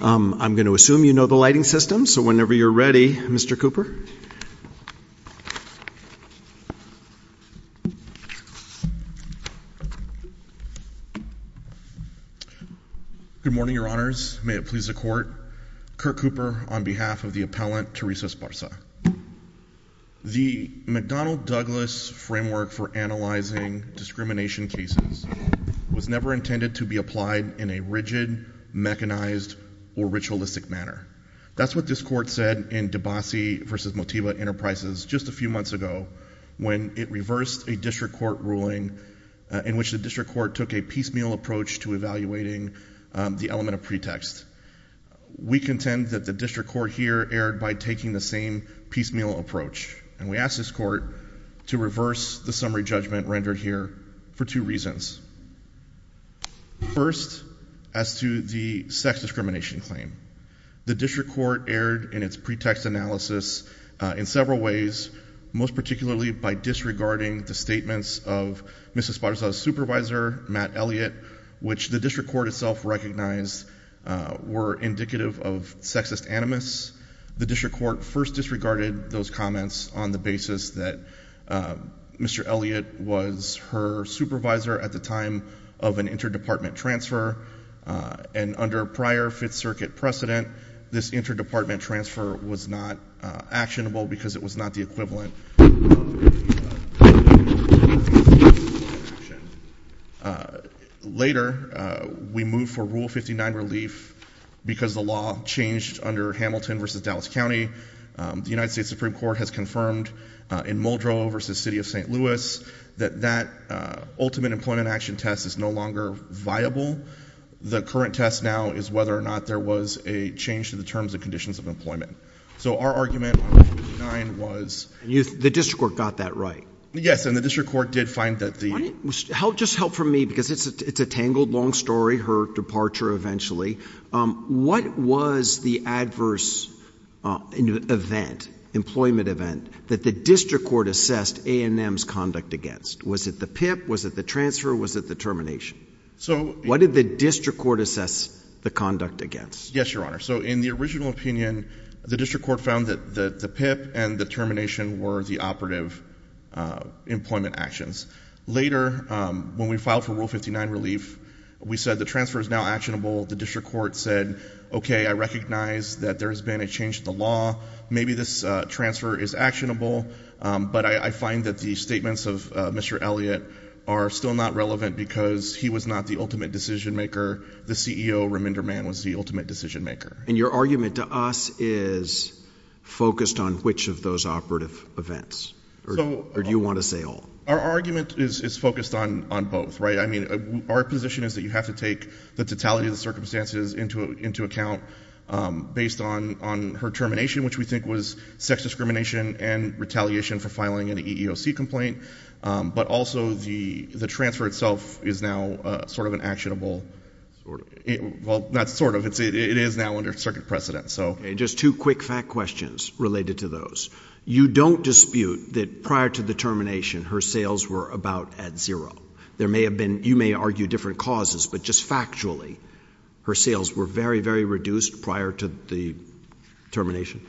I'm gonna assume you know the lighting system so whenever you're ready Mr. Cooper. Good morning your honors, may it please the court, Kirk Cooper on behalf of the appellant Teresa Esparza. The McDonnell Douglas framework for analyzing discrimination cases was never intended to be applied in a rigid mechanized or ritualistic manner. That's what this court said in Debasi versus Motiva Enterprises just a few months ago when it reversed a district court ruling in which the district court took a piecemeal approach to evaluating the element of pretext. We contend that the district court here erred by taking the same piecemeal approach and we asked this court to reverse the summary to the sex discrimination claim. The district court erred in its pretext analysis in several ways most particularly by disregarding the statements of Mrs. Esparza's supervisor Matt Elliott which the district court itself recognized were indicative of sexist animus. The district court first disregarded those comments on the basis that Mr. Elliott was her supervisor at the time of an interdepartment transfer and under prior Fifth Circuit precedent this interdepartment transfer was not actionable because it was not the equivalent. Later we moved for rule 59 relief because the law changed under Hamilton versus Dallas County. The United States Supreme Court has confirmed in Muldrow versus City of St. Louis that that ultimate employment action test is no longer viable. The current test now is whether or not there was a change to the terms and conditions of employment. So our argument was... The district court got that right? Yes and the district court did find that the... Just help from me because it's a tangled long story, her departure eventually. What was the adverse event, employment event that the district court assessed A&M's conduct against? Was it the PIP? Was it the transfer? Was it the termination? So what did the district court assess the conduct against? Yes your honor. So in the original opinion the district court found that the PIP and the termination were the operative employment actions. Later when we filed for rule 59 relief we said the transfer is now actionable. The district court said okay I recognize that there has been a change in the law. Maybe this transfer is actionable but I find that the statements of Mr. Elliott are still not relevant because he was not the ultimate decision-maker. The CEO, Reminder Man, was the ultimate decision-maker. And your argument to us is focused on which of those operative events or do you want to say all? Our argument is focused on on both, right? I mean our position is that you have to take the totality of the circumstances into into account based on on her termination which we think was sex discrimination and retaliation for filing an EEOC complaint. But also the the transfer itself is now sort of an actionable, well not sort of, it is now under circuit precedent. So just two quick fact questions related to those. You don't dispute that prior to the termination her sales were about at zero. There may have been, you may argue different causes, but just factually her sales were very very reduced prior to the termination?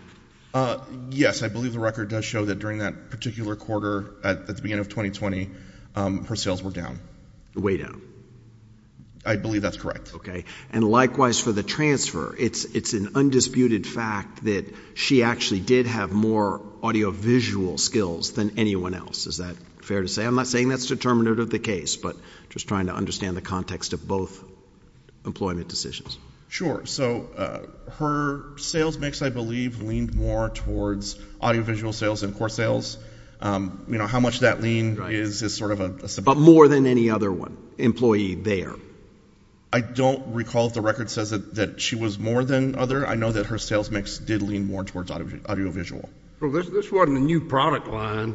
Yes I believe the record does show that during that particular quarter at the beginning of 2020 her sales were down. Way down. I believe that's correct. Okay and likewise for the transfer it's it's an undisputed fact that she actually did have more audio-visual skills than anyone else. Is that fair to say? I'm not saying that's determinative of the case but just trying to understand the context of both employment decisions. Sure so her sales mix I believe leaned more towards audio-visual sales and core sales. You know how much that lean is is sort of a But more than any other one employee there? I don't recall if the record says that she was more than other. I know that her sales mix did lean more towards audio-visual. This wasn't a new product line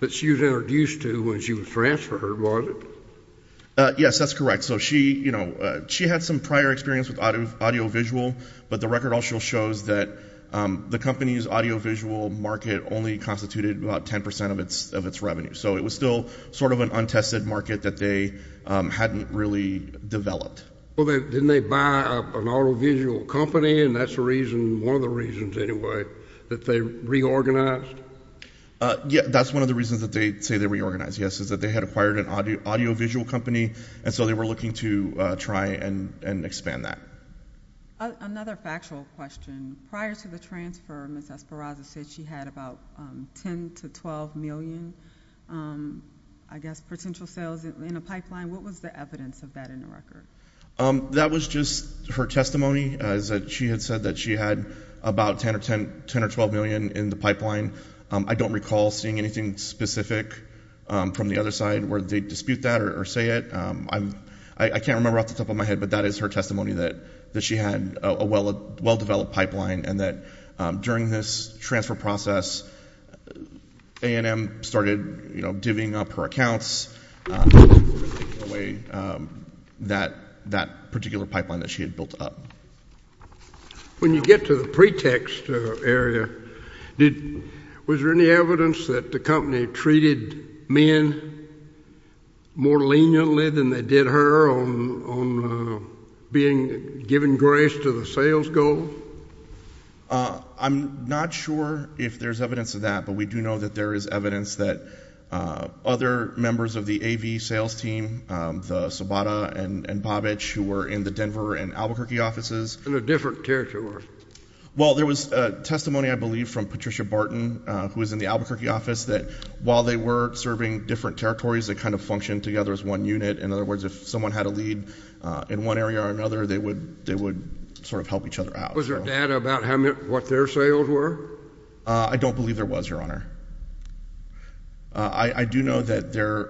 that she was introduced to when she transferred was it? Yes that's correct so she you know she had some prior experience with audio-visual but the record also shows that the company's audio-visual market only constituted about 10% of its of its revenue so it was still sort of an untested market that they hadn't really developed. Well they didn't they buy an audio-visual company and that's the reason one of the reasons anyway that they reorganized? Yeah that's one of the reasons that they say they reorganize yes is that they had acquired an audio-visual company and so they were looking to try and expand that. Another factual question prior to the transfer Ms. Esparza said she had about 10 to 12 million I guess potential sales in a pipeline what was the evidence of that in the record? That was just her testimony as that she had said that she had about 10 or 10 10 or 12 million in the pipeline I don't recall seeing anything specific from the other side where they dispute that or say it I'm I can't remember off the top of my head but that is her testimony that that she had a well a well-developed pipeline and that during this transfer process A&M started you know divvying up her accounts that that particular pipeline that she had built up. When you get to the pretext area did was there any evidence that the company treated men more leniently than they did her on being given grace to the sales goal? I'm not sure if there's evidence of that but we do know that there is evidence that other members of the AV sales team the Sobota and Babich who were in the Denver and Albuquerque offices. In a different territory? Well there was a testimony I believe from Patricia Barton who was in the Albuquerque office that while they were serving different territories that kind of functioned together as one unit in other words if someone had a lead in one area or another they would they would sort of help each other out. Was there data about how many what their sales were? I don't believe there was your honor. I do know that there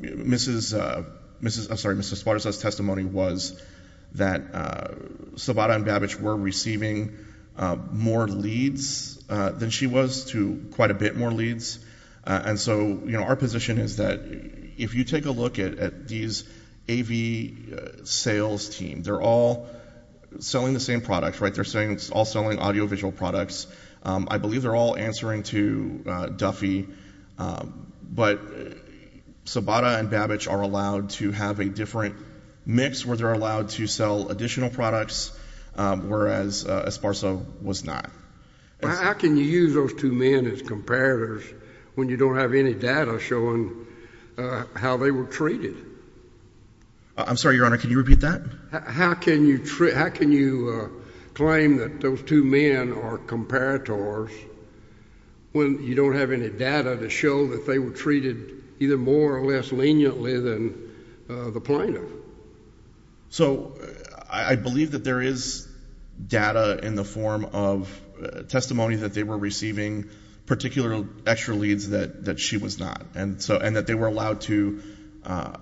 Mrs. Mrs. I'm sorry Mrs. Sparta's testimony was that Sobota and Babich were receiving more leads than she was to quite a bit more leads and so you know our position is that if you take a look at these AV sales team they're all selling the same products right they're saying it's all selling audio-visual products. I believe they're all answering to Duffy but Sobota and Babich are allowed to have a different mix where they're allowed to sell additional products whereas Esparza was not. How can you use those two men as comparators when you don't have any data showing how they were treated? I'm sorry your honor can you repeat that? How can you treat how can you claim that those two men are comparators when you don't have any data to show that they were treated either more or less leniently than the plenum? So I believe that there is data in the form of testimony that they were receiving particular extra leads that that she was not and so and that they were allowed to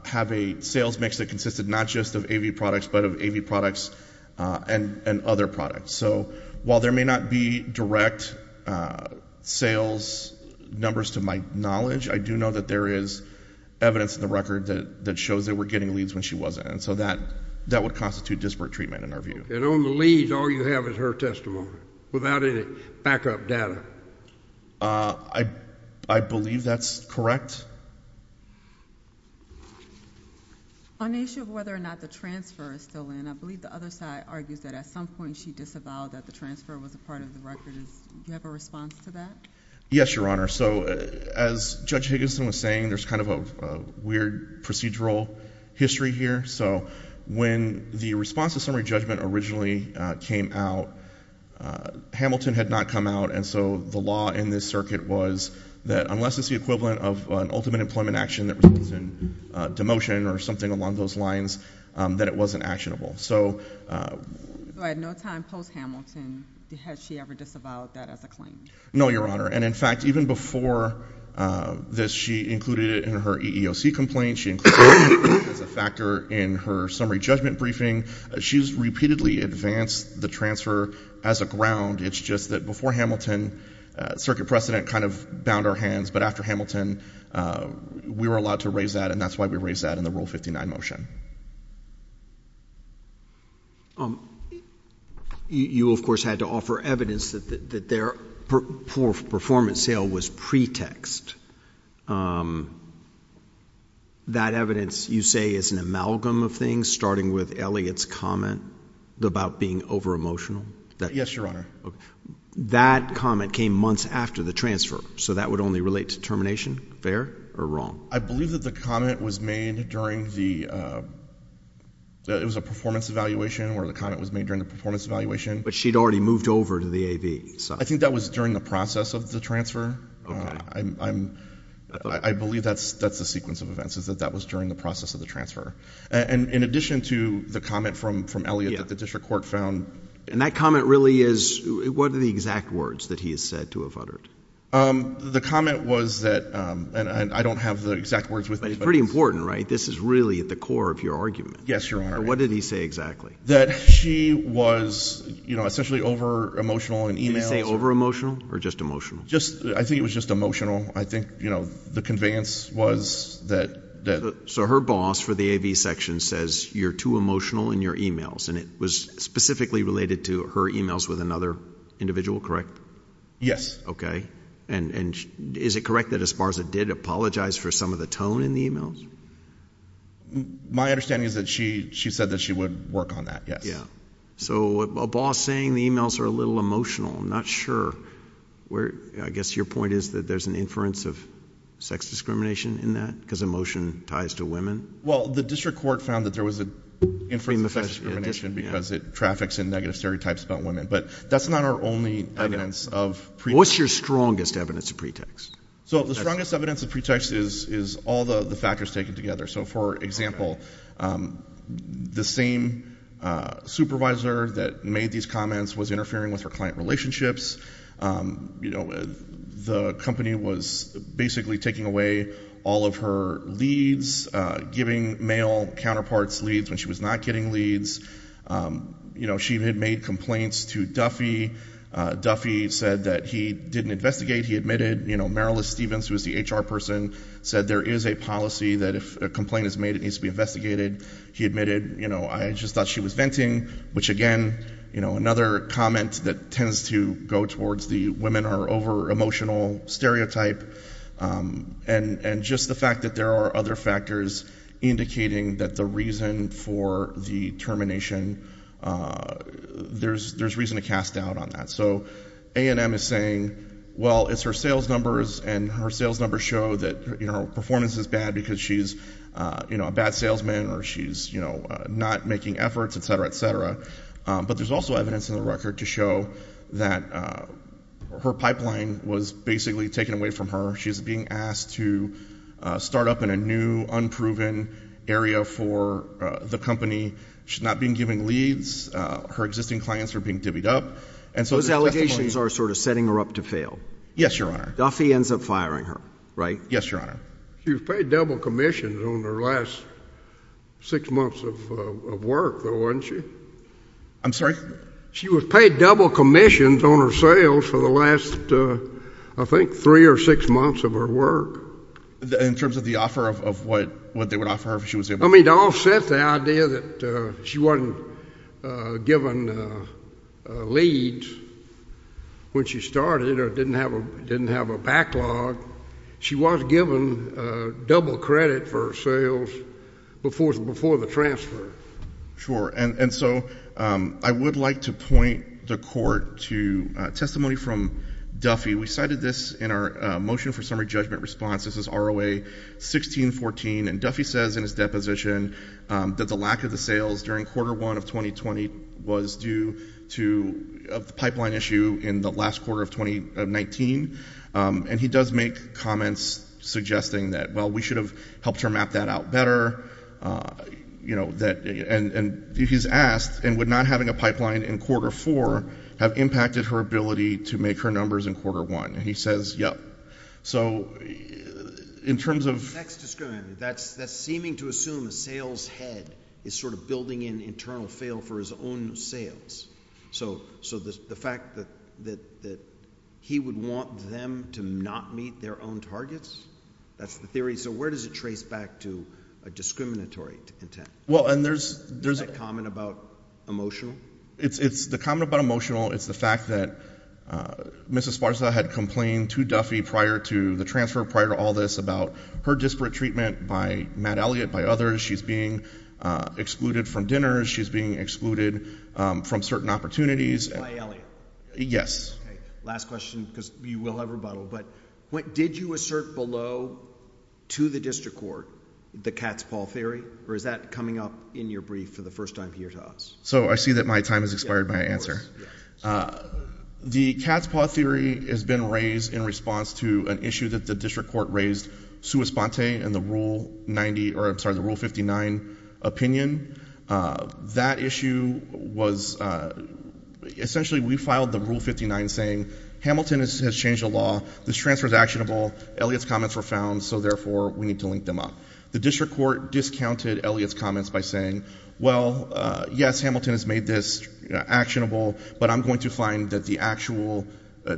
have a sales mix that consisted not just of AV products but of AV products and and other products. So while there may not be direct sales numbers to my knowledge I do know that there is evidence in the record that that shows they were getting leads when she wasn't and so that that would constitute disparate treatment in our view. And on the leads all you have is her testimony without any backup data? I believe that's correct. On the issue of whether or not the transfer is still in I believe the other side argues that at some point she disavowed that the transfer was a part of the record. Do you have a response to that? Yes your honor. So as Judge Higginson was saying there's kind of a weird procedural history here. So when the response to summary judgment originally came out Hamilton had not come out and so the law in this circuit was that unless it's the equivalent of an ultimate employment action that was in demotion or something along those lines that it wasn't actionable. So at no time post Hamilton has she ever disavowed that as a claim? No your honor and in fact even before this she included it in her EEOC complaint. She included it as a factor in her summary judgment briefing. She's repeatedly advanced the transfer as a ground it's just that before Hamilton circuit precedent kind of bound our hands but after Hamilton we were allowed to raise that and that's why we raised that in the rule 59 motion. You of course had to offer evidence that that their performance sale was pretext. That evidence you say is an amalgam of things starting with Elliott's comment about being over emotional? Yes your honor. That comment came months after the transfer so that would only relate to termination? Fair or wrong? I believe that the comment was made during the it was a performance evaluation where the comment was made during the performance evaluation. But she'd already moved over to the AV side. I think that was during the process of the transfer. I believe that's that's the sequence of events is that that was during the process of the transfer and in addition to the comment from from Elliott that the district court found. And that comment really is what are the exact words that he has said to have uttered? The comment was that and I don't have the exact words with me. Pretty important right this is really at the core of your argument. Yes your honor. What did he say exactly? That she was you know essentially over emotional and emails. Did he say over emotional or just emotional? Just I think it was just emotional I think you know the conveyance was that that. So her boss for the AV section says you're too emotional in your emails and it was specifically related to her emails with another individual correct? Yes. Okay and and is it correct that as far as it did apologize for some of the tone in the emails? My understanding is that she she said that she would work on that yes. Yeah so a boss saying the emails are a little emotional I'm not sure where I guess your point is that there's an inference of sex discrimination in that because emotion ties to women? Well the district court found that there was a inference of sex discrimination because it traffics in negative stereotypes about women but that's not our only evidence of. What's your strongest evidence of pretext? So the strongest evidence of pretext is is all the the factors taken together. So for example the same supervisor that made these comments was interfering with her client relationships. You know the company was basically taking away all of her leads giving male counterparts leads when she was not getting leads. You know she had made complaints to Duffy. Duffy said that he didn't investigate he admitted you know Marilys Stevens who is the HR person said there is a policy that if a complaint is made it needs to be investigated. He admitted you know I just thought she was venting which again you know another comment that tends to go towards the women are over emotional stereotype and and just the fact that there are other factors indicating that the reason for the termination there's there's reason to cast doubt on that. So A&M is saying well it's her sales numbers and her sales numbers show that you know performance is bad because she's you know a bad salesman or she's you know not making efforts etc etc but there's also evidence in the record to show that her pipeline was basically taken away from her. She's being asked to start up in a new unproven area for the company. She's not being given leads. Her existing clients are being divvied up. Those allegations are sort of setting her up to fail. Yes your honor. Duffy ends up firing her right? Yes your honor. She was paid double commissions on her last six months of work though wasn't she? I'm sorry? She was paid double commissions on her sales for the last I think three or six months of her work. In terms of the offer of what what they would offer her if she was able? I mean to offset the idea that she wasn't given leads when she started or didn't have a didn't have a backlog, she was given double credit for sales before before the transfer. Sure and and so I would like to point the court to testimony from Duffy. We cited this in our motion for summary judgment response. This is ROA 1614 and Duffy says in his deposition that the lack of the sales during quarter 1 of 2020 was due to the pipeline issue in the last quarter of 2019 and he does make comments suggesting that well we should have helped her map that out better you know that and and he's asked and would not having a pipeline in quarter 4 have impacted her ability to make her numbers in quarter 1 and he says yep so in terms of that's that's seeming to assume a sales head is sort of building in internal fail for his own sales so so the fact that that that he would want them to not meet their own targets that's the theory so where does it trace back to a discriminatory intent well and there's there's a comment about emotional it's it's the comment about emotional it's the fact that mrs. Sparza had complained to Duffy prior to the transfer prior to all this about her disparate treatment by Matt Elliott by others she's being excluded from dinners she's being excluded from certain opportunities yes last question because you will have rebuttal but what did you assert below to the district court the cat's paw theory or is that coming up in your brief for the first time here to us so I see that my time has expired my answer the cat's paw theory has been raised in response to an issue that the district court raised sua sponte and the rule 90 or I'm sorry the rule 59 opinion that issue was essentially we filed the rule 59 saying Hamilton has changed the law this transfer is actionable Elliot's comments were found so therefore we need to link them up the district court discounted Elliot's comments by saying well yes Hamilton has made this actionable but I'm going to find that the actual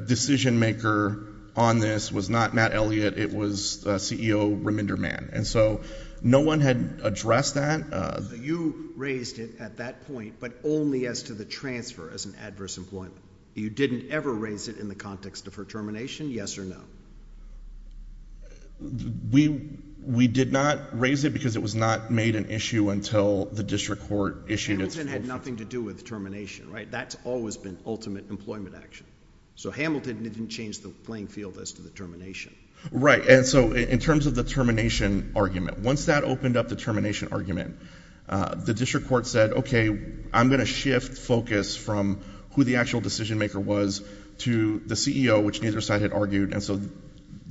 decision maker on this was not Matt Elliott it was CEO remainder man and so no one had addressed that you raised it at that point but only as to the transfer as an adverse employment you didn't ever raise it in the context of her termination yes or no we we did not raise it because it was not made an issue until the district court issued it's nothing to do with termination right that's always been ultimate employment action so Hamilton didn't change the playing field as to the termination right and so in terms of the termination argument once that opened up the termination argument the district court said okay I'm going to shift focus from who the actual decision maker was to the CEO which neither side had argued and so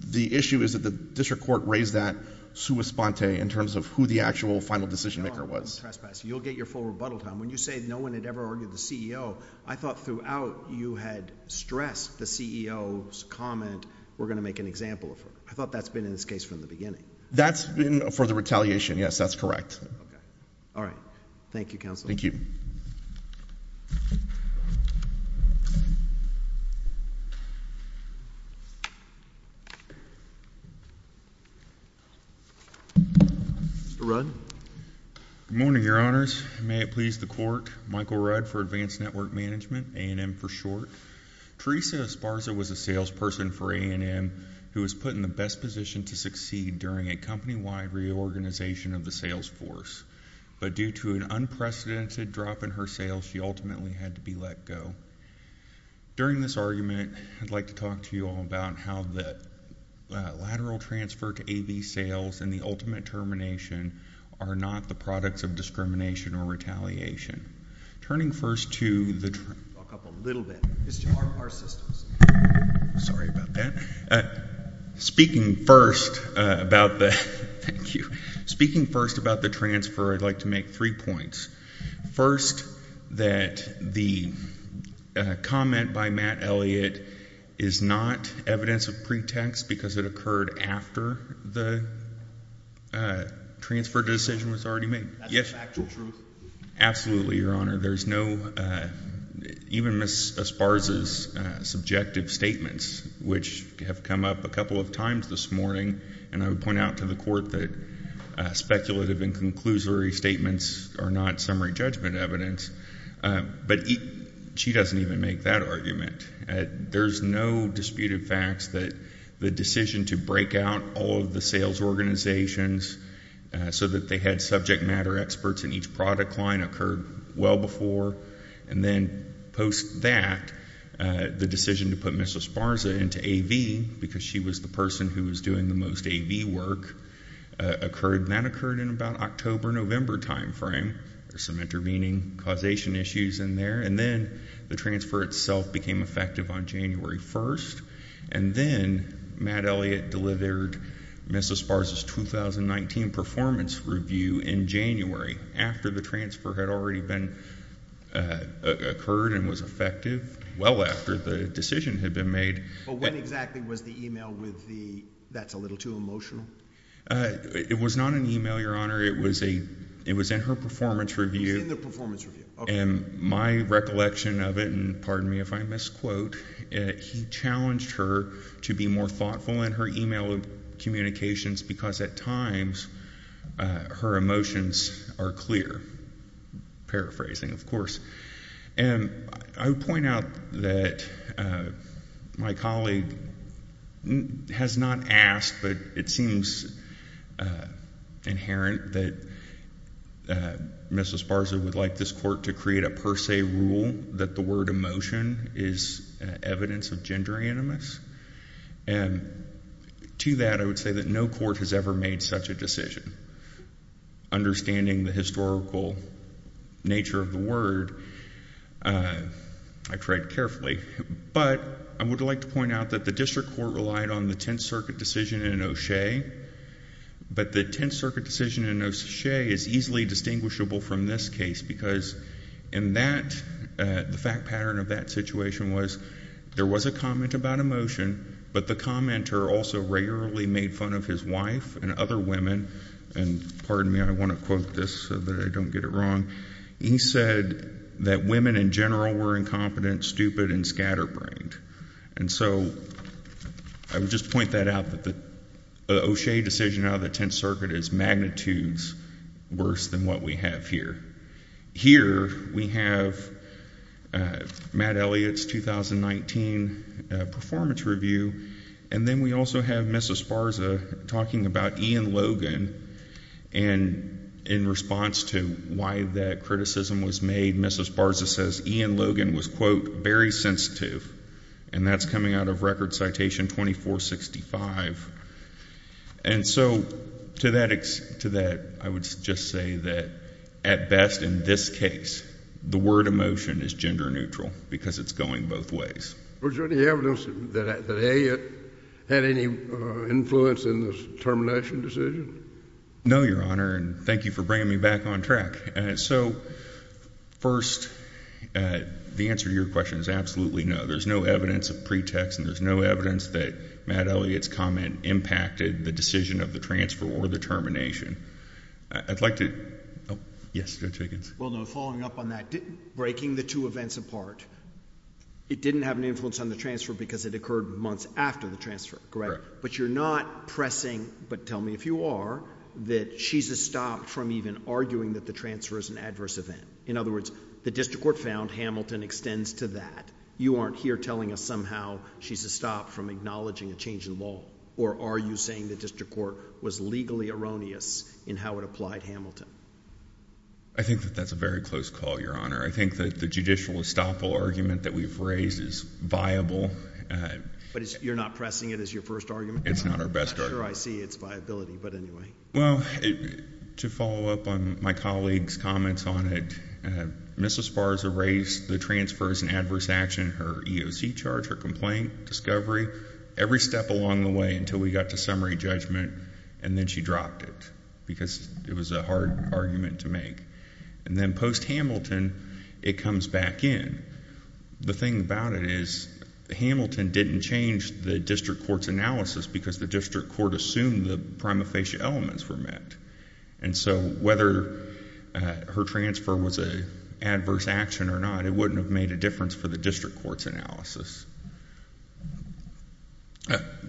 the issue is that the district court raised that sua sponte in terms of who the actual final decision maker was you'll get your full rebuttal time when you say no one had ever argued the CEO I thought throughout you had stressed the CEO's comment we're gonna make an example I thought that's been in this case from the beginning that's been for the retaliation yes that's correct all right thank you counsel thank you run morning your honors may it please the court Michael Rudd for advanced network management A&M for short Teresa Esparza was a salesperson for A&M who was put in the best position to succeed during a company-wide reorganization of the sales force but due to an unprecedented drop in her sales she ultimately had to be let go during this argument I'd like to talk to you all about how that lateral transfer to a be sales and the ultimate termination are not the products of discrimination or retaliation turning first to the sorry about that speaking first about the speaking first about the transfer I'd like to make three points first that the comment by Matt Elliott is not evidence of pretext because it occurred after the transfer decision was already yes absolutely your honor there's no even miss Esparza's subjective statements which have come up a couple of times this morning and I would point out to the court that speculative and conclusory statements are not summary judgment evidence but she doesn't even make that argument there's no disputed facts that the decision to break out all of the sales organizations so that they had subject matter experts in each product line occurred well before and then post that the decision to put miss Esparza into AV because she was the person who was doing the most AV work occurred that occurred in about October November time frame there's some intervening causation issues in there and then the transfer itself became effective on January 1st and then Matt Elliott delivered miss Esparza's 2019 performance review in January after the transfer had already been occurred and was effective well after the decision had been made but when exactly was the email with the that's a little too emotional it was not an email your honor it was a it was in her performance review in the performance review and my recollection of it and pardon me if I quote he challenged her to be more thoughtful in her email communications because at times her emotions are clear paraphrasing of course and I would point out that my colleague has not asked but it seems inherent that miss Esparza would like this court to create a per se rule that the word emotion is evidence of gender animus and to that I would say that no court has ever made such a decision understanding the historical nature of the word I tried carefully but I would like to point out that the district court relied on the Tenth Circuit decision in O'Shea but the Tenth Circuit decision in O'Shea is easily distinguishable from this case because in that the fact pattern of that situation was there was a comment about emotion but the commenter also rarely made fun of his wife and other women and pardon me I want to quote this so that I don't get it wrong he said that women in general were incompetent stupid and scatterbrained and so I would just point that out that the O'Shea decision out of Tenth Circuit is magnitudes worse than what we have here. Here we have Matt Elliott's 2019 performance review and then we also have Mrs. Sparza talking about Ian Logan and in response to why that criticism was made Mrs. Sparza says Ian Logan was quote very sensitive and that's coming out of record citation 2465 and so to that I would just say that at best in this case the word emotion is gender-neutral because it's going both ways. Was there any evidence that Elliott had any influence in the termination decision? No your honor and thank you for bringing me back on track and so first the answer to your question is absolutely no there's no evidence of pretext and there's no evidence that Matt Elliott's comment impacted the decision of the transfer or the termination. I'd like to yes Judge Higgins. Well no following up on that breaking the two events apart it didn't have an influence on the transfer because it occurred months after the transfer correct but you're not pressing but tell me if you are that she's a stop from even arguing that the transfer is an adverse event in other words the district court found Hamilton extends to that you aren't here telling us somehow she's a stop from acknowledging a change in law or are you saying the district court was legally erroneous in how it applied Hamilton? I think that that's a very close call your honor I think that the judicial estoppel argument that we've raised is viable. But you're not pressing it as your first argument? It's not our best argument. Sure I see it's viability but anyway. Well to follow up on my colleagues comments on it Mrs. Sparza raised the transfer as an adverse action her EOC charge her complaint discovery every step along the way until we got to summary judgment and then she dropped it because it was a hard argument to make and then post Hamilton it comes back in the thing about it is the Hamilton didn't change the district courts analysis because the district court assumed the prima facie elements were met and so whether her transfer was a adverse action or not it wouldn't have made a difference for the district court's analysis.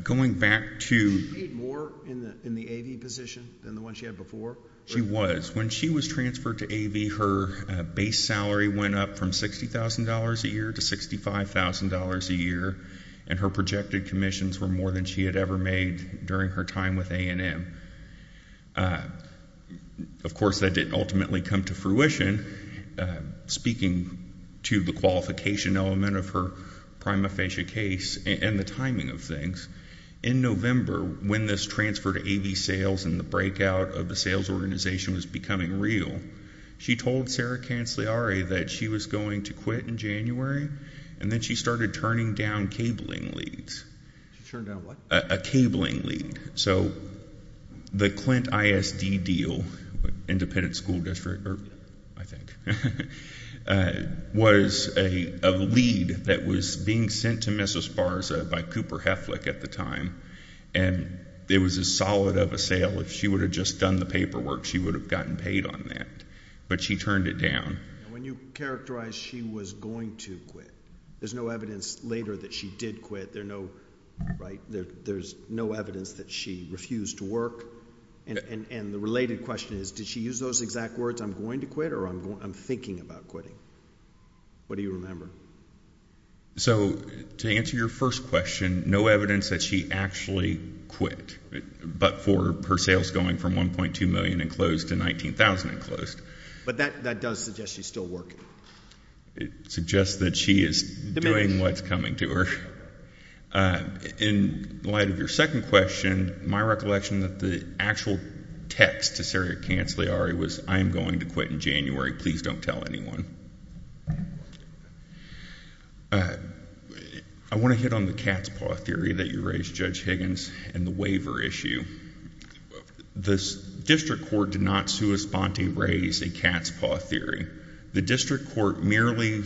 Going back to more in the AV position than the one she had before? She was when she was transferred to AV her base salary went up from $60,000 a year to $65,000 a year and her projected commissions were more than she had ever made during her time with A&M. Of course that didn't ultimately come to fruition speaking to the qualification element of her prima facie case and the timing of things in November when this transfer to AV sales and the breakout of the sales organization was becoming real she told Sarah Cancelliari that she was going to quit in January and then she started turning down cabling leads. A cabling lead. So the Clint ISD deal, independent school district I think, was a lead that was being sent to Mrs. Barza by Cooper Heflick at the time and it was a solid of a sale if she would have just done the paperwork she would have gotten paid on that but she turned it down. When you characterize she was going to quit there's no evidence later that she did quit there no right there there's no evidence that she refused to work and the related question is did she use those exact words I'm going to quit or I'm thinking about quitting? What do you remember? So to answer your first question no evidence that she actually quit but for her sales going from 1.2 million and closed to 19,000 and closed. But that that does suggest she's still working. It suggests that she is doing what's coming to her. In light of your second question my recollection that the actual text to Sarah Cancelliari was I'm going to quit in January please don't tell anyone. I want to hit on the cat's paw theory that you raised Judge Higgins and the waiver issue. The district court did not sui sponte raise a cat's paw theory. The district court merely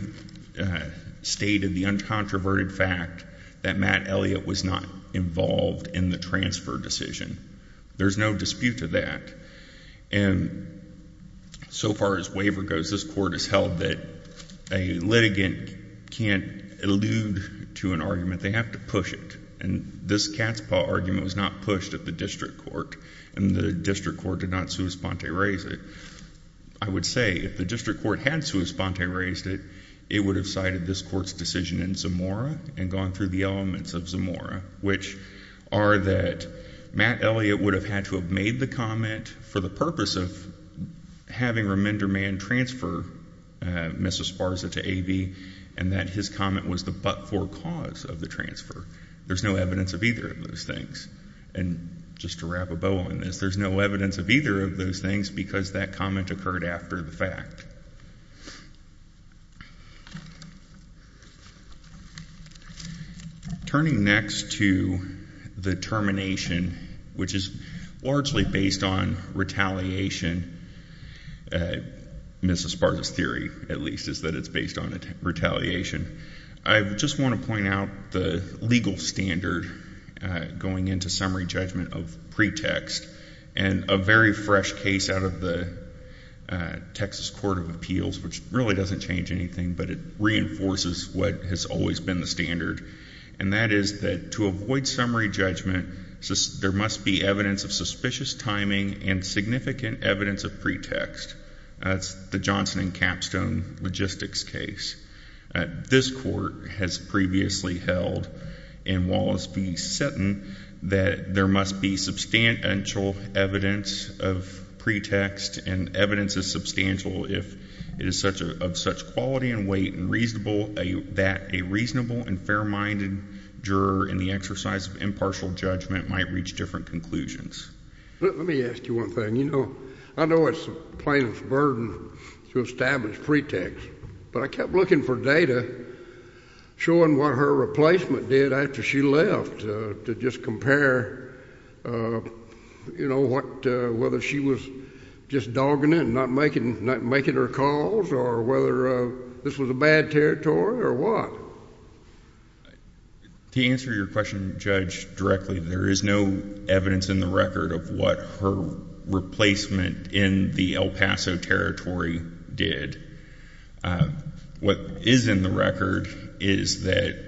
stated the uncontroverted fact that Matt Elliott was not involved in the transfer decision. There's no dispute to that and so far as waiver goes this court has held that a litigant can't allude to an argument they have to push it and this cat's paw argument was not pushed at the district court and the district court did not sui sponte raise it. I would say if the district court had sui sponte raised it it would have cited this court's decision in Zamora and gone through the elements of Zamora which are that Matt Elliott would have had to have made the comment for the purpose of having remander man transfer Mrs. Sparza to A.B. and that his comment was the but-for cause of the transfer. There's no evidence of either of those things and just to wrap a bow on this there's no evidence of either of those things because that comment occurred after the fact. Turning next to the termination which is largely based on retaliation. Mrs. Sparza's theory at least is that it's based on a retaliation. I just want to point out the legal standard going into summary judgment of pretext and a very fresh case out of the Texas Court of Appeals which really doesn't change anything but it reinforces what has always been the standard and that is that to avoid summary judgment there must be evidence of suspicious timing and significant evidence of pretext. That's the Johnson and Capstone logistics case. This court has previously held in Wallace v. Sutton that there must be substantial evidence of pretext and evidence is substantial if it is such a such quality and weight and reasonable that a reasonable and fair-minded juror in the exercise of impartial judgment might reach different conclusions. Let me ask you one thing you know I know it's plaintiff's burden to establish pretext but I kept looking for data showing what her replacement did after she left to just compare you know what whether she was just dogging it and not making not making her calls or whether this was a bad territory or what. To answer your question judge directly there is no evidence in the record of what her replacement in the El Paso Territory did. What is in the record is that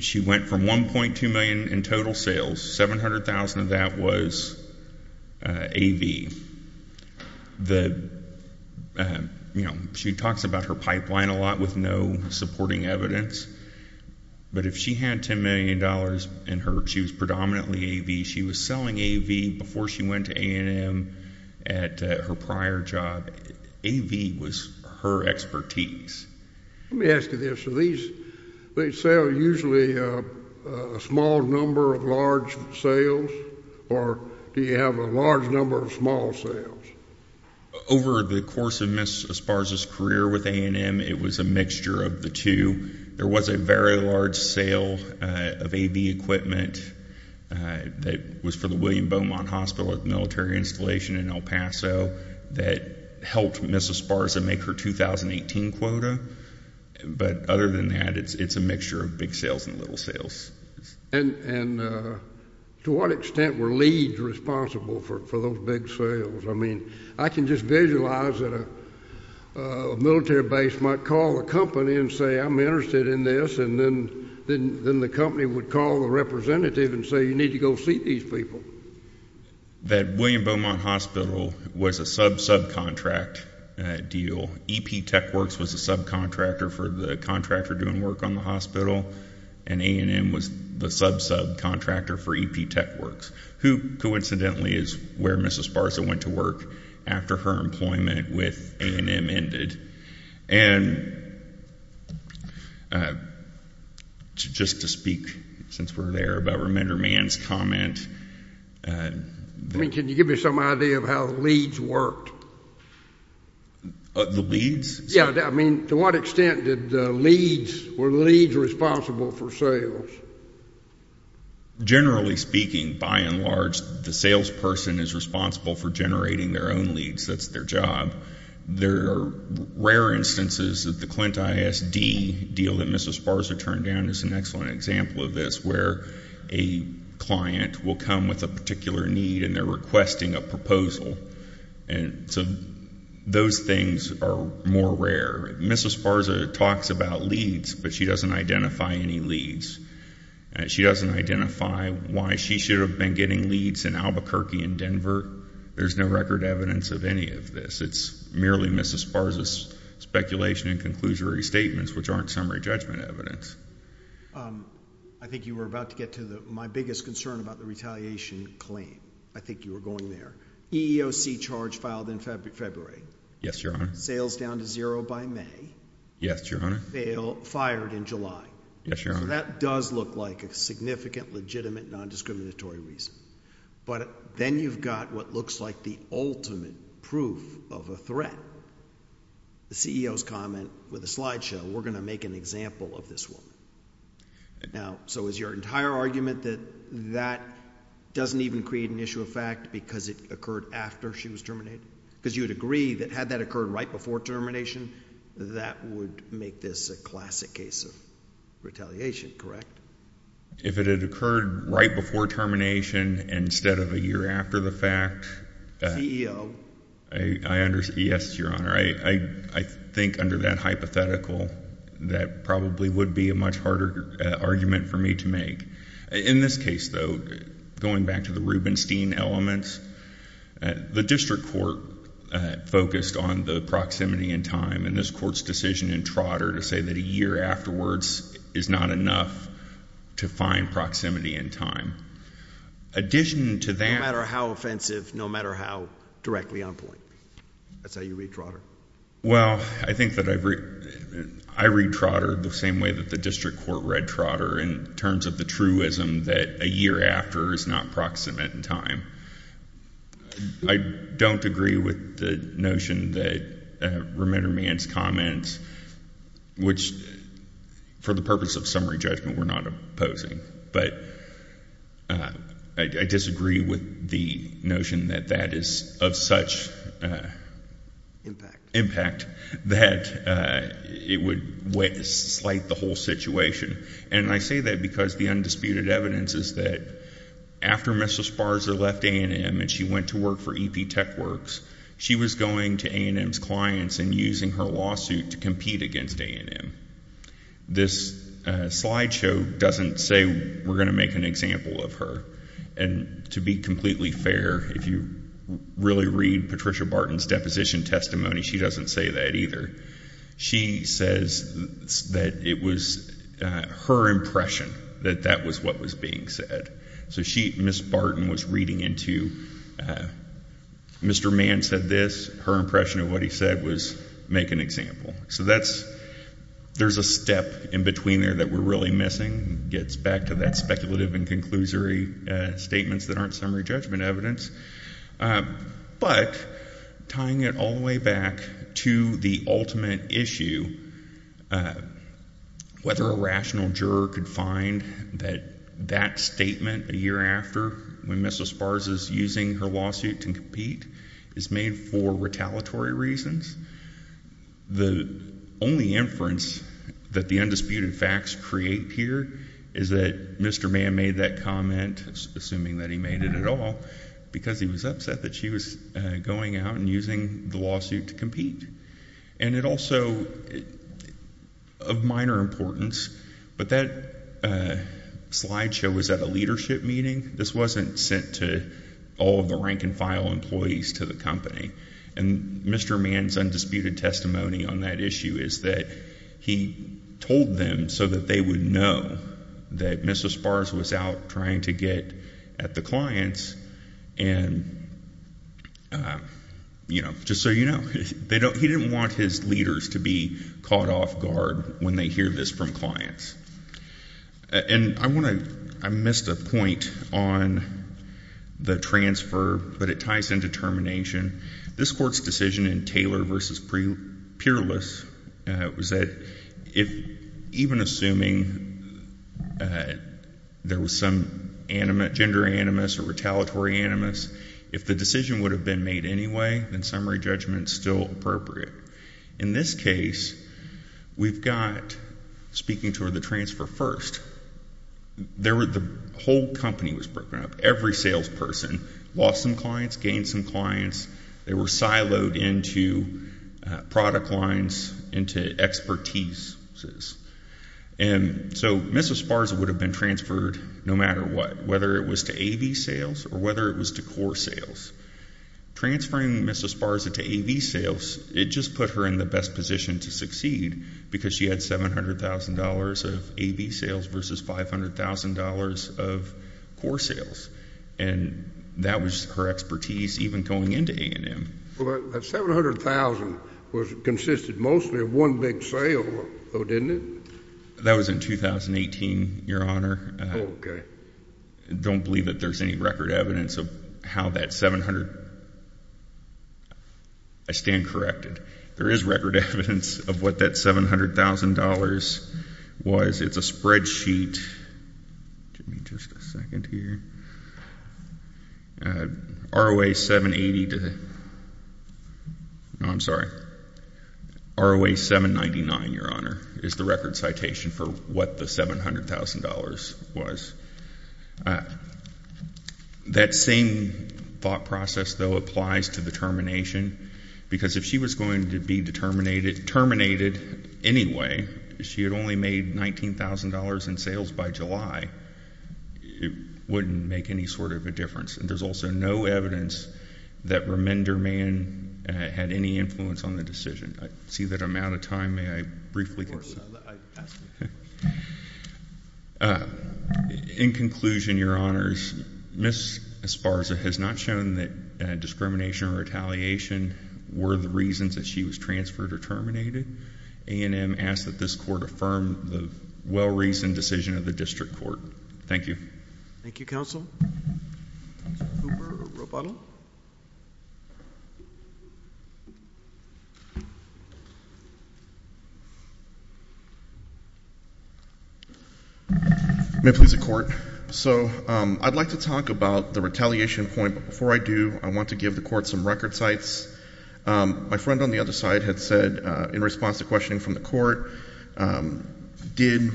she went from 1.2 million in total sales 700,000 of that was AV. The you know she talks about her pipeline a lot with no supporting evidence but if she had 10 million dollars in her she was was selling AV before she went to A&M at her prior job. AV was her expertise. Let me ask you this, do they sell usually a small number of large sales or do you have a large number of small sales? Over the course of Ms. Esparza's career with A&M it was a mixture of the two. There was a very large sale of AV equipment that was for the William Beaumont Hospital at the military installation in El Paso that helped Ms. Esparza make her 2018 quota but other than that it's a mixture of big sales and little sales. And to what extent were leads responsible for those big sales? I mean I can just visualize that a military base might call a company and say I'm interested in this and then the company would call a representative and say you need to go see these people. That William Beaumont Hospital was a sub-subcontract deal. EP Techworks was a subcontractor for the contractor doing work on the hospital and A&M was the sub-subcontractor for EP Techworks who coincidentally is where Ms. Esparza went to work after her employment with A&M ended. And just to speak since we're there about Reminder Man's comment. I mean can you give me some idea of how leads worked? The leads? Yeah, I mean to what extent did the leads, were the leads responsible for sales? Generally speaking, by and large, the salesperson is responsible for generating their own leads. That's their job. There are rare instances that the Clint ISD deal that Ms. Esparza turned down is an excellent example of this where a client will come with a particular need and they're requesting a proposal. And so those things are more rare. Ms. Esparza talks about leads but she doesn't identify any leads. She doesn't identify why she should have been getting leads in Albuquerque and Denver. There's no record evidence of any of this. It's merely Ms. Esparza's speculation and conclusionary statements which aren't summary judgment evidence. I think you were about to get to my biggest concern about the retaliation claim. I think you were going there. EEOC charge filed in February. Yes, Your Honor. Sales down to zero by May. Yes, Your Honor. Fail, fired in July. Yes, Your Honor. So that does look like a significant, legitimate, non-discriminatory reason. But then you've got what looks like the ultimate proof of a threat. The CEO's comment with a slideshow. We're going to make an example of this one. Now, so is your entire argument that that doesn't even create an issue of fact because it occurred after she was terminated? Because you would agree that had that occurred right before termination, that would make this a classic case of retaliation, correct? If it had occurred right before termination instead of a year after the fact... CEO. Yes, Your Honor. I think under that hypothetical, that probably would be a much harder argument for me to make. In this case, though, going back to the Rubenstein elements, the district court focused on the proximity and time. And this court's decision in Trotter to say that a year afterwards is not enough to find proximity and time. Addition to that... I disagree with the truism that a year after is not proximate in time. I don't agree with the notion that Remenderman's comments, which for the purpose of summary judgment, we're not opposing. But I disagree with the notion that that is of such... impact that it would slight the whole situation. And I say that because the undisputed evidence is that after Mrs. Sparser left A&M and she went to work for EP TechWorks, she was going to A&M's clients and using her lawsuit to compete against A&M. This slide show doesn't say we're going to make an example of her. And to be completely fair, if you really read Patricia Barton's deposition testimony, she doesn't say that either. She says that it was her impression that that was what was being said. So she, Ms. Barton, was reading into... Mr. Mann said this. Her impression of what he said was make an example. So that's... there's a step in between there that we're really missing. It gets back to that speculative and conclusory statements that aren't summary judgment evidence. But tying it all the way back to the ultimate issue, whether a rational juror could find that that statement a year after, when Mrs. Sparser is using her lawsuit to compete, is made for retaliatory reasons. The only inference that the undisputed facts create here is that Mr. Mann made that comment, assuming that he made it at all, because he was upset that she was going out and using the lawsuit to compete. And it also... of minor importance, but that slide show was at a leadership meeting. This wasn't sent to all of the rank and file employees to the company. And Mr. Mann's undisputed testimony on that issue is that he told them so that they would know that Mrs. Sparser was out trying to get at the clients. And, you know, just so you know, he didn't want his leaders to be caught off guard when they hear this from clients. And I want to... I missed a point on the transfer, but it ties into termination. This Court's decision in Taylor v. Peerless was that even assuming there was some gender animus or retaliatory animus, if the decision would have been made anyway, then summary judgment is still appropriate. In this case, we've got... speaking toward the transfer first, there were... the whole company was broken up. Every salesperson lost some clients, gained some clients. They were siloed into product lines, into expertise. And so Mrs. Sparser would have been transferred no matter what, whether it was to A.V. sales or whether it was to core sales. Transferring Mrs. Sparser to A.V. sales, it just put her in the best position to succeed because she had $700,000 of A.V. sales versus $500,000 of core sales. And that was her expertise even going into A&M. Well, that $700,000 consisted mostly of one big sale, though, didn't it? That was in 2018, Your Honor. Okay. I don't believe that there's any record evidence of how that $700,000... I stand corrected. There is record evidence of what that $700,000 was. It's a spreadsheet... give me just a second here... ROA 780 to... no, I'm sorry. ROA 799, Your Honor, is the record citation for what the $700,000 was. That same thought process, though, applies to the termination because if she was going to be terminated anyway, she had only made $19,000 in sales by July, it wouldn't make any sort of a difference. And there's also no evidence that remainder man had any influence on the decision. I see that I'm out of time. May I briefly... I asked you. In conclusion, Your Honors, Ms. Esparza has not shown that discrimination or retaliation were the reasons that she was transferred or terminated. A&M asks that this Court affirm the well-reasoned decision of the District Court. Thank you. Thank you, Counsel. Mr. Cooper or Roboto? May it please the Court. So, I'd like to talk about the retaliation point, but before I do, I want to give the Court some record cites. My friend on the other side had said, in response to questioning from the Court, did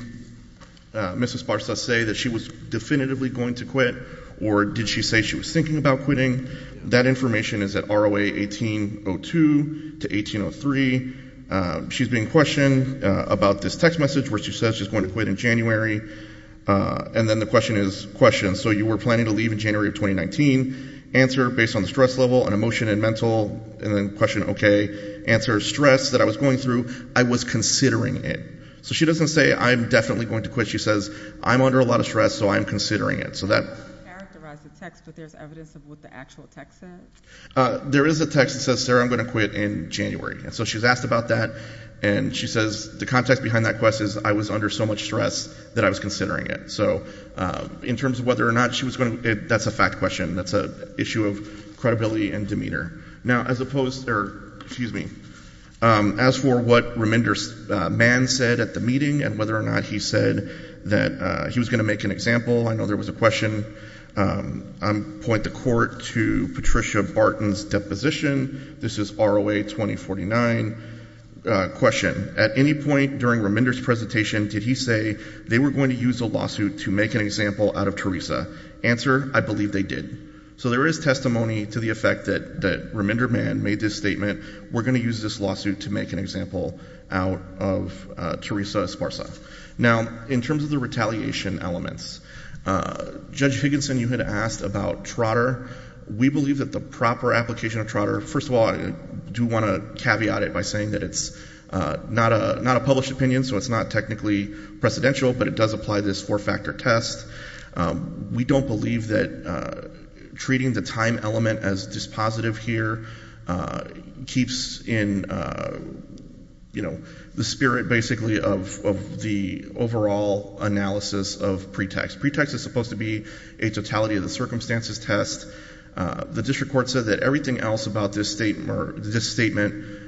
Ms. Esparza say that she was definitively going to quit, or did she say she was thinking about quitting? That information is at ROA 1802 to 1803. She's being questioned about this text message where she says she's going to quit in January, and then the question is questioned. So, you were planning to leave in January of 2019. Answer, based on the stress level, on emotion and mental, and then question, okay. Answer, stress that I was going through, I was considering it. So, she doesn't say, I'm definitely going to quit. She says, I'm under a lot of stress, so I'm considering it. So, that... It doesn't characterize the text, but there's evidence of what the actual text says? There is a text that says, Sarah, I'm going to quit in January. So, she's asked about that, and she says the context behind that question is, I was under so much stress that I was considering it. So, in terms of whether or not she was going to... That's a fact question. That's an issue of credibility and demeanor. Now, as opposed... Excuse me. As for what Reminder's man said at the meeting, and whether or not he said that he was going to make an example, I know there was a question. I'm going to point the court to Patricia Barton's deposition. This is ROA 2049. Question. At any point during Reminder's presentation, did he say they were going to use a lawsuit to make an example out of Teresa? Answer, I believe they did. So, there is testimony to the effect that Reminder man made this statement. We're going to use this lawsuit to make an example out of Teresa Esparza. Now, in terms of the retaliation elements, Judge Higginson, you had asked about Trotter. We believe that the proper application of Trotter... First of all, I do want to caveat it by saying that it's not a published opinion, so it's not technically precedential, but it does apply this four-factor test. We don't believe that treating the time element as dispositive here keeps in the spirit, basically, of the overall analysis of pretext. Pretext is supposed to be a totality of the circumstances test. The district court said that everything else about this statement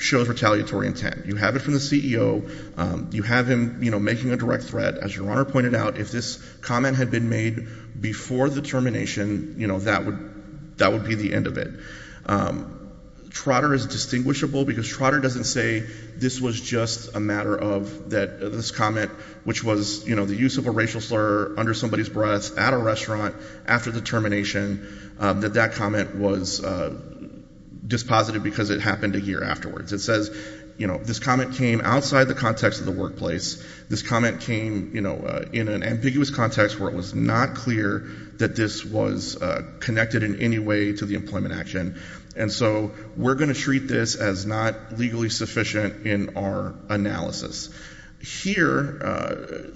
shows retaliatory intent. You have it from the CEO. You have him, you know, making a direct threat. As your Honor pointed out, if this comment had been made before the termination, you know, that would be the end of it. Trotter is distinguishable because Trotter doesn't say this was just a matter of this comment, which was, you know, the use of a racial slur under somebody's breath at a restaurant after the termination, that that comment was dispositive because it happened a year afterwards. It says, you know, this comment came outside the context of the workplace. This comment came, you know, in an ambiguous context where it was not clear that this was connected in any way to the employment action. And so, we're going to treat this as not legally sufficient in our analysis. Here,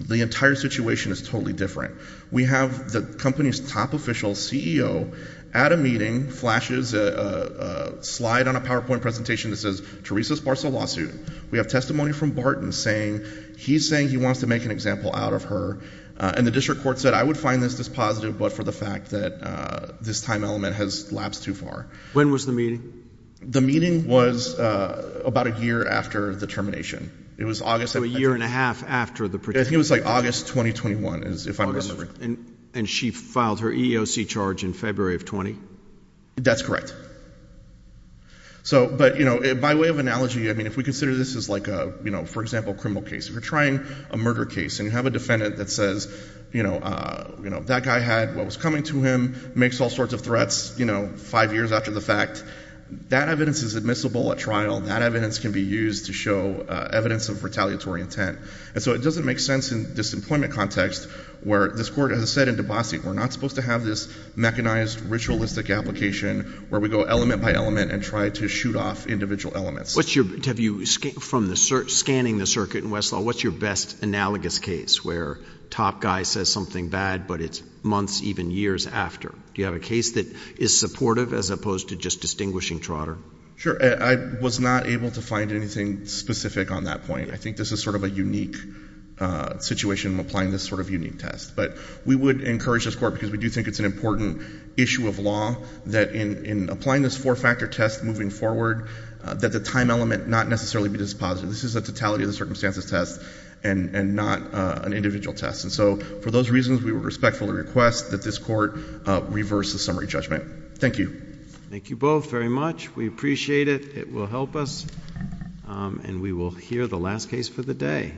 the entire situation is totally different. We have the company's top official, CEO, at a meeting, flashes a slide on a PowerPoint presentation that says, Teresa sparks a lawsuit. We have testimony from Barton saying, he's saying he wants to make an example out of her. And the district court said, I would find this dispositive, but for the fact that this time element has lapsed too far. When was the meeting? The meeting was about a year after the termination. It was August. So a year and a half after the. I think it was like August 2021, if I'm remembering. And she filed her EEOC charge in February of 20? That's correct. So, but, you know, by way of analogy, I mean, if we consider this as like a, you know, for example, a criminal case. If you're trying a murder case and you have a defendant that says, you know, that guy had what was coming to him, makes all sorts of threats, you know, five years after the fact. That evidence is admissible at trial. That evidence can be used to show evidence of retaliatory intent. And so it doesn't make sense in this employment context where this court has said in DeBassi, we're not supposed to have this mechanized, ritualistic application where we go element by element and try to shoot off individual elements. What's your, have you, from the, scanning the circuit in Westlaw, what's your best analogous case where the top guy says something bad, but it's months, even years after? Do you have a case that is supportive as opposed to just distinguishing trotter? Sure. I was not able to find anything specific on that point. I think this is sort of a unique situation in applying this sort of unique test. But we would encourage this court, because we do think it's an important issue of law, that in applying this four-factor test moving forward, that the time element not necessarily be dispositive. This is a totality of the circumstances test and not an individual test. And so for those reasons, we would respectfully request that this court reverse the summary judgment. Thank you. Thank you both very much. We appreciate it. It will help us. And we will hear the last case for the day.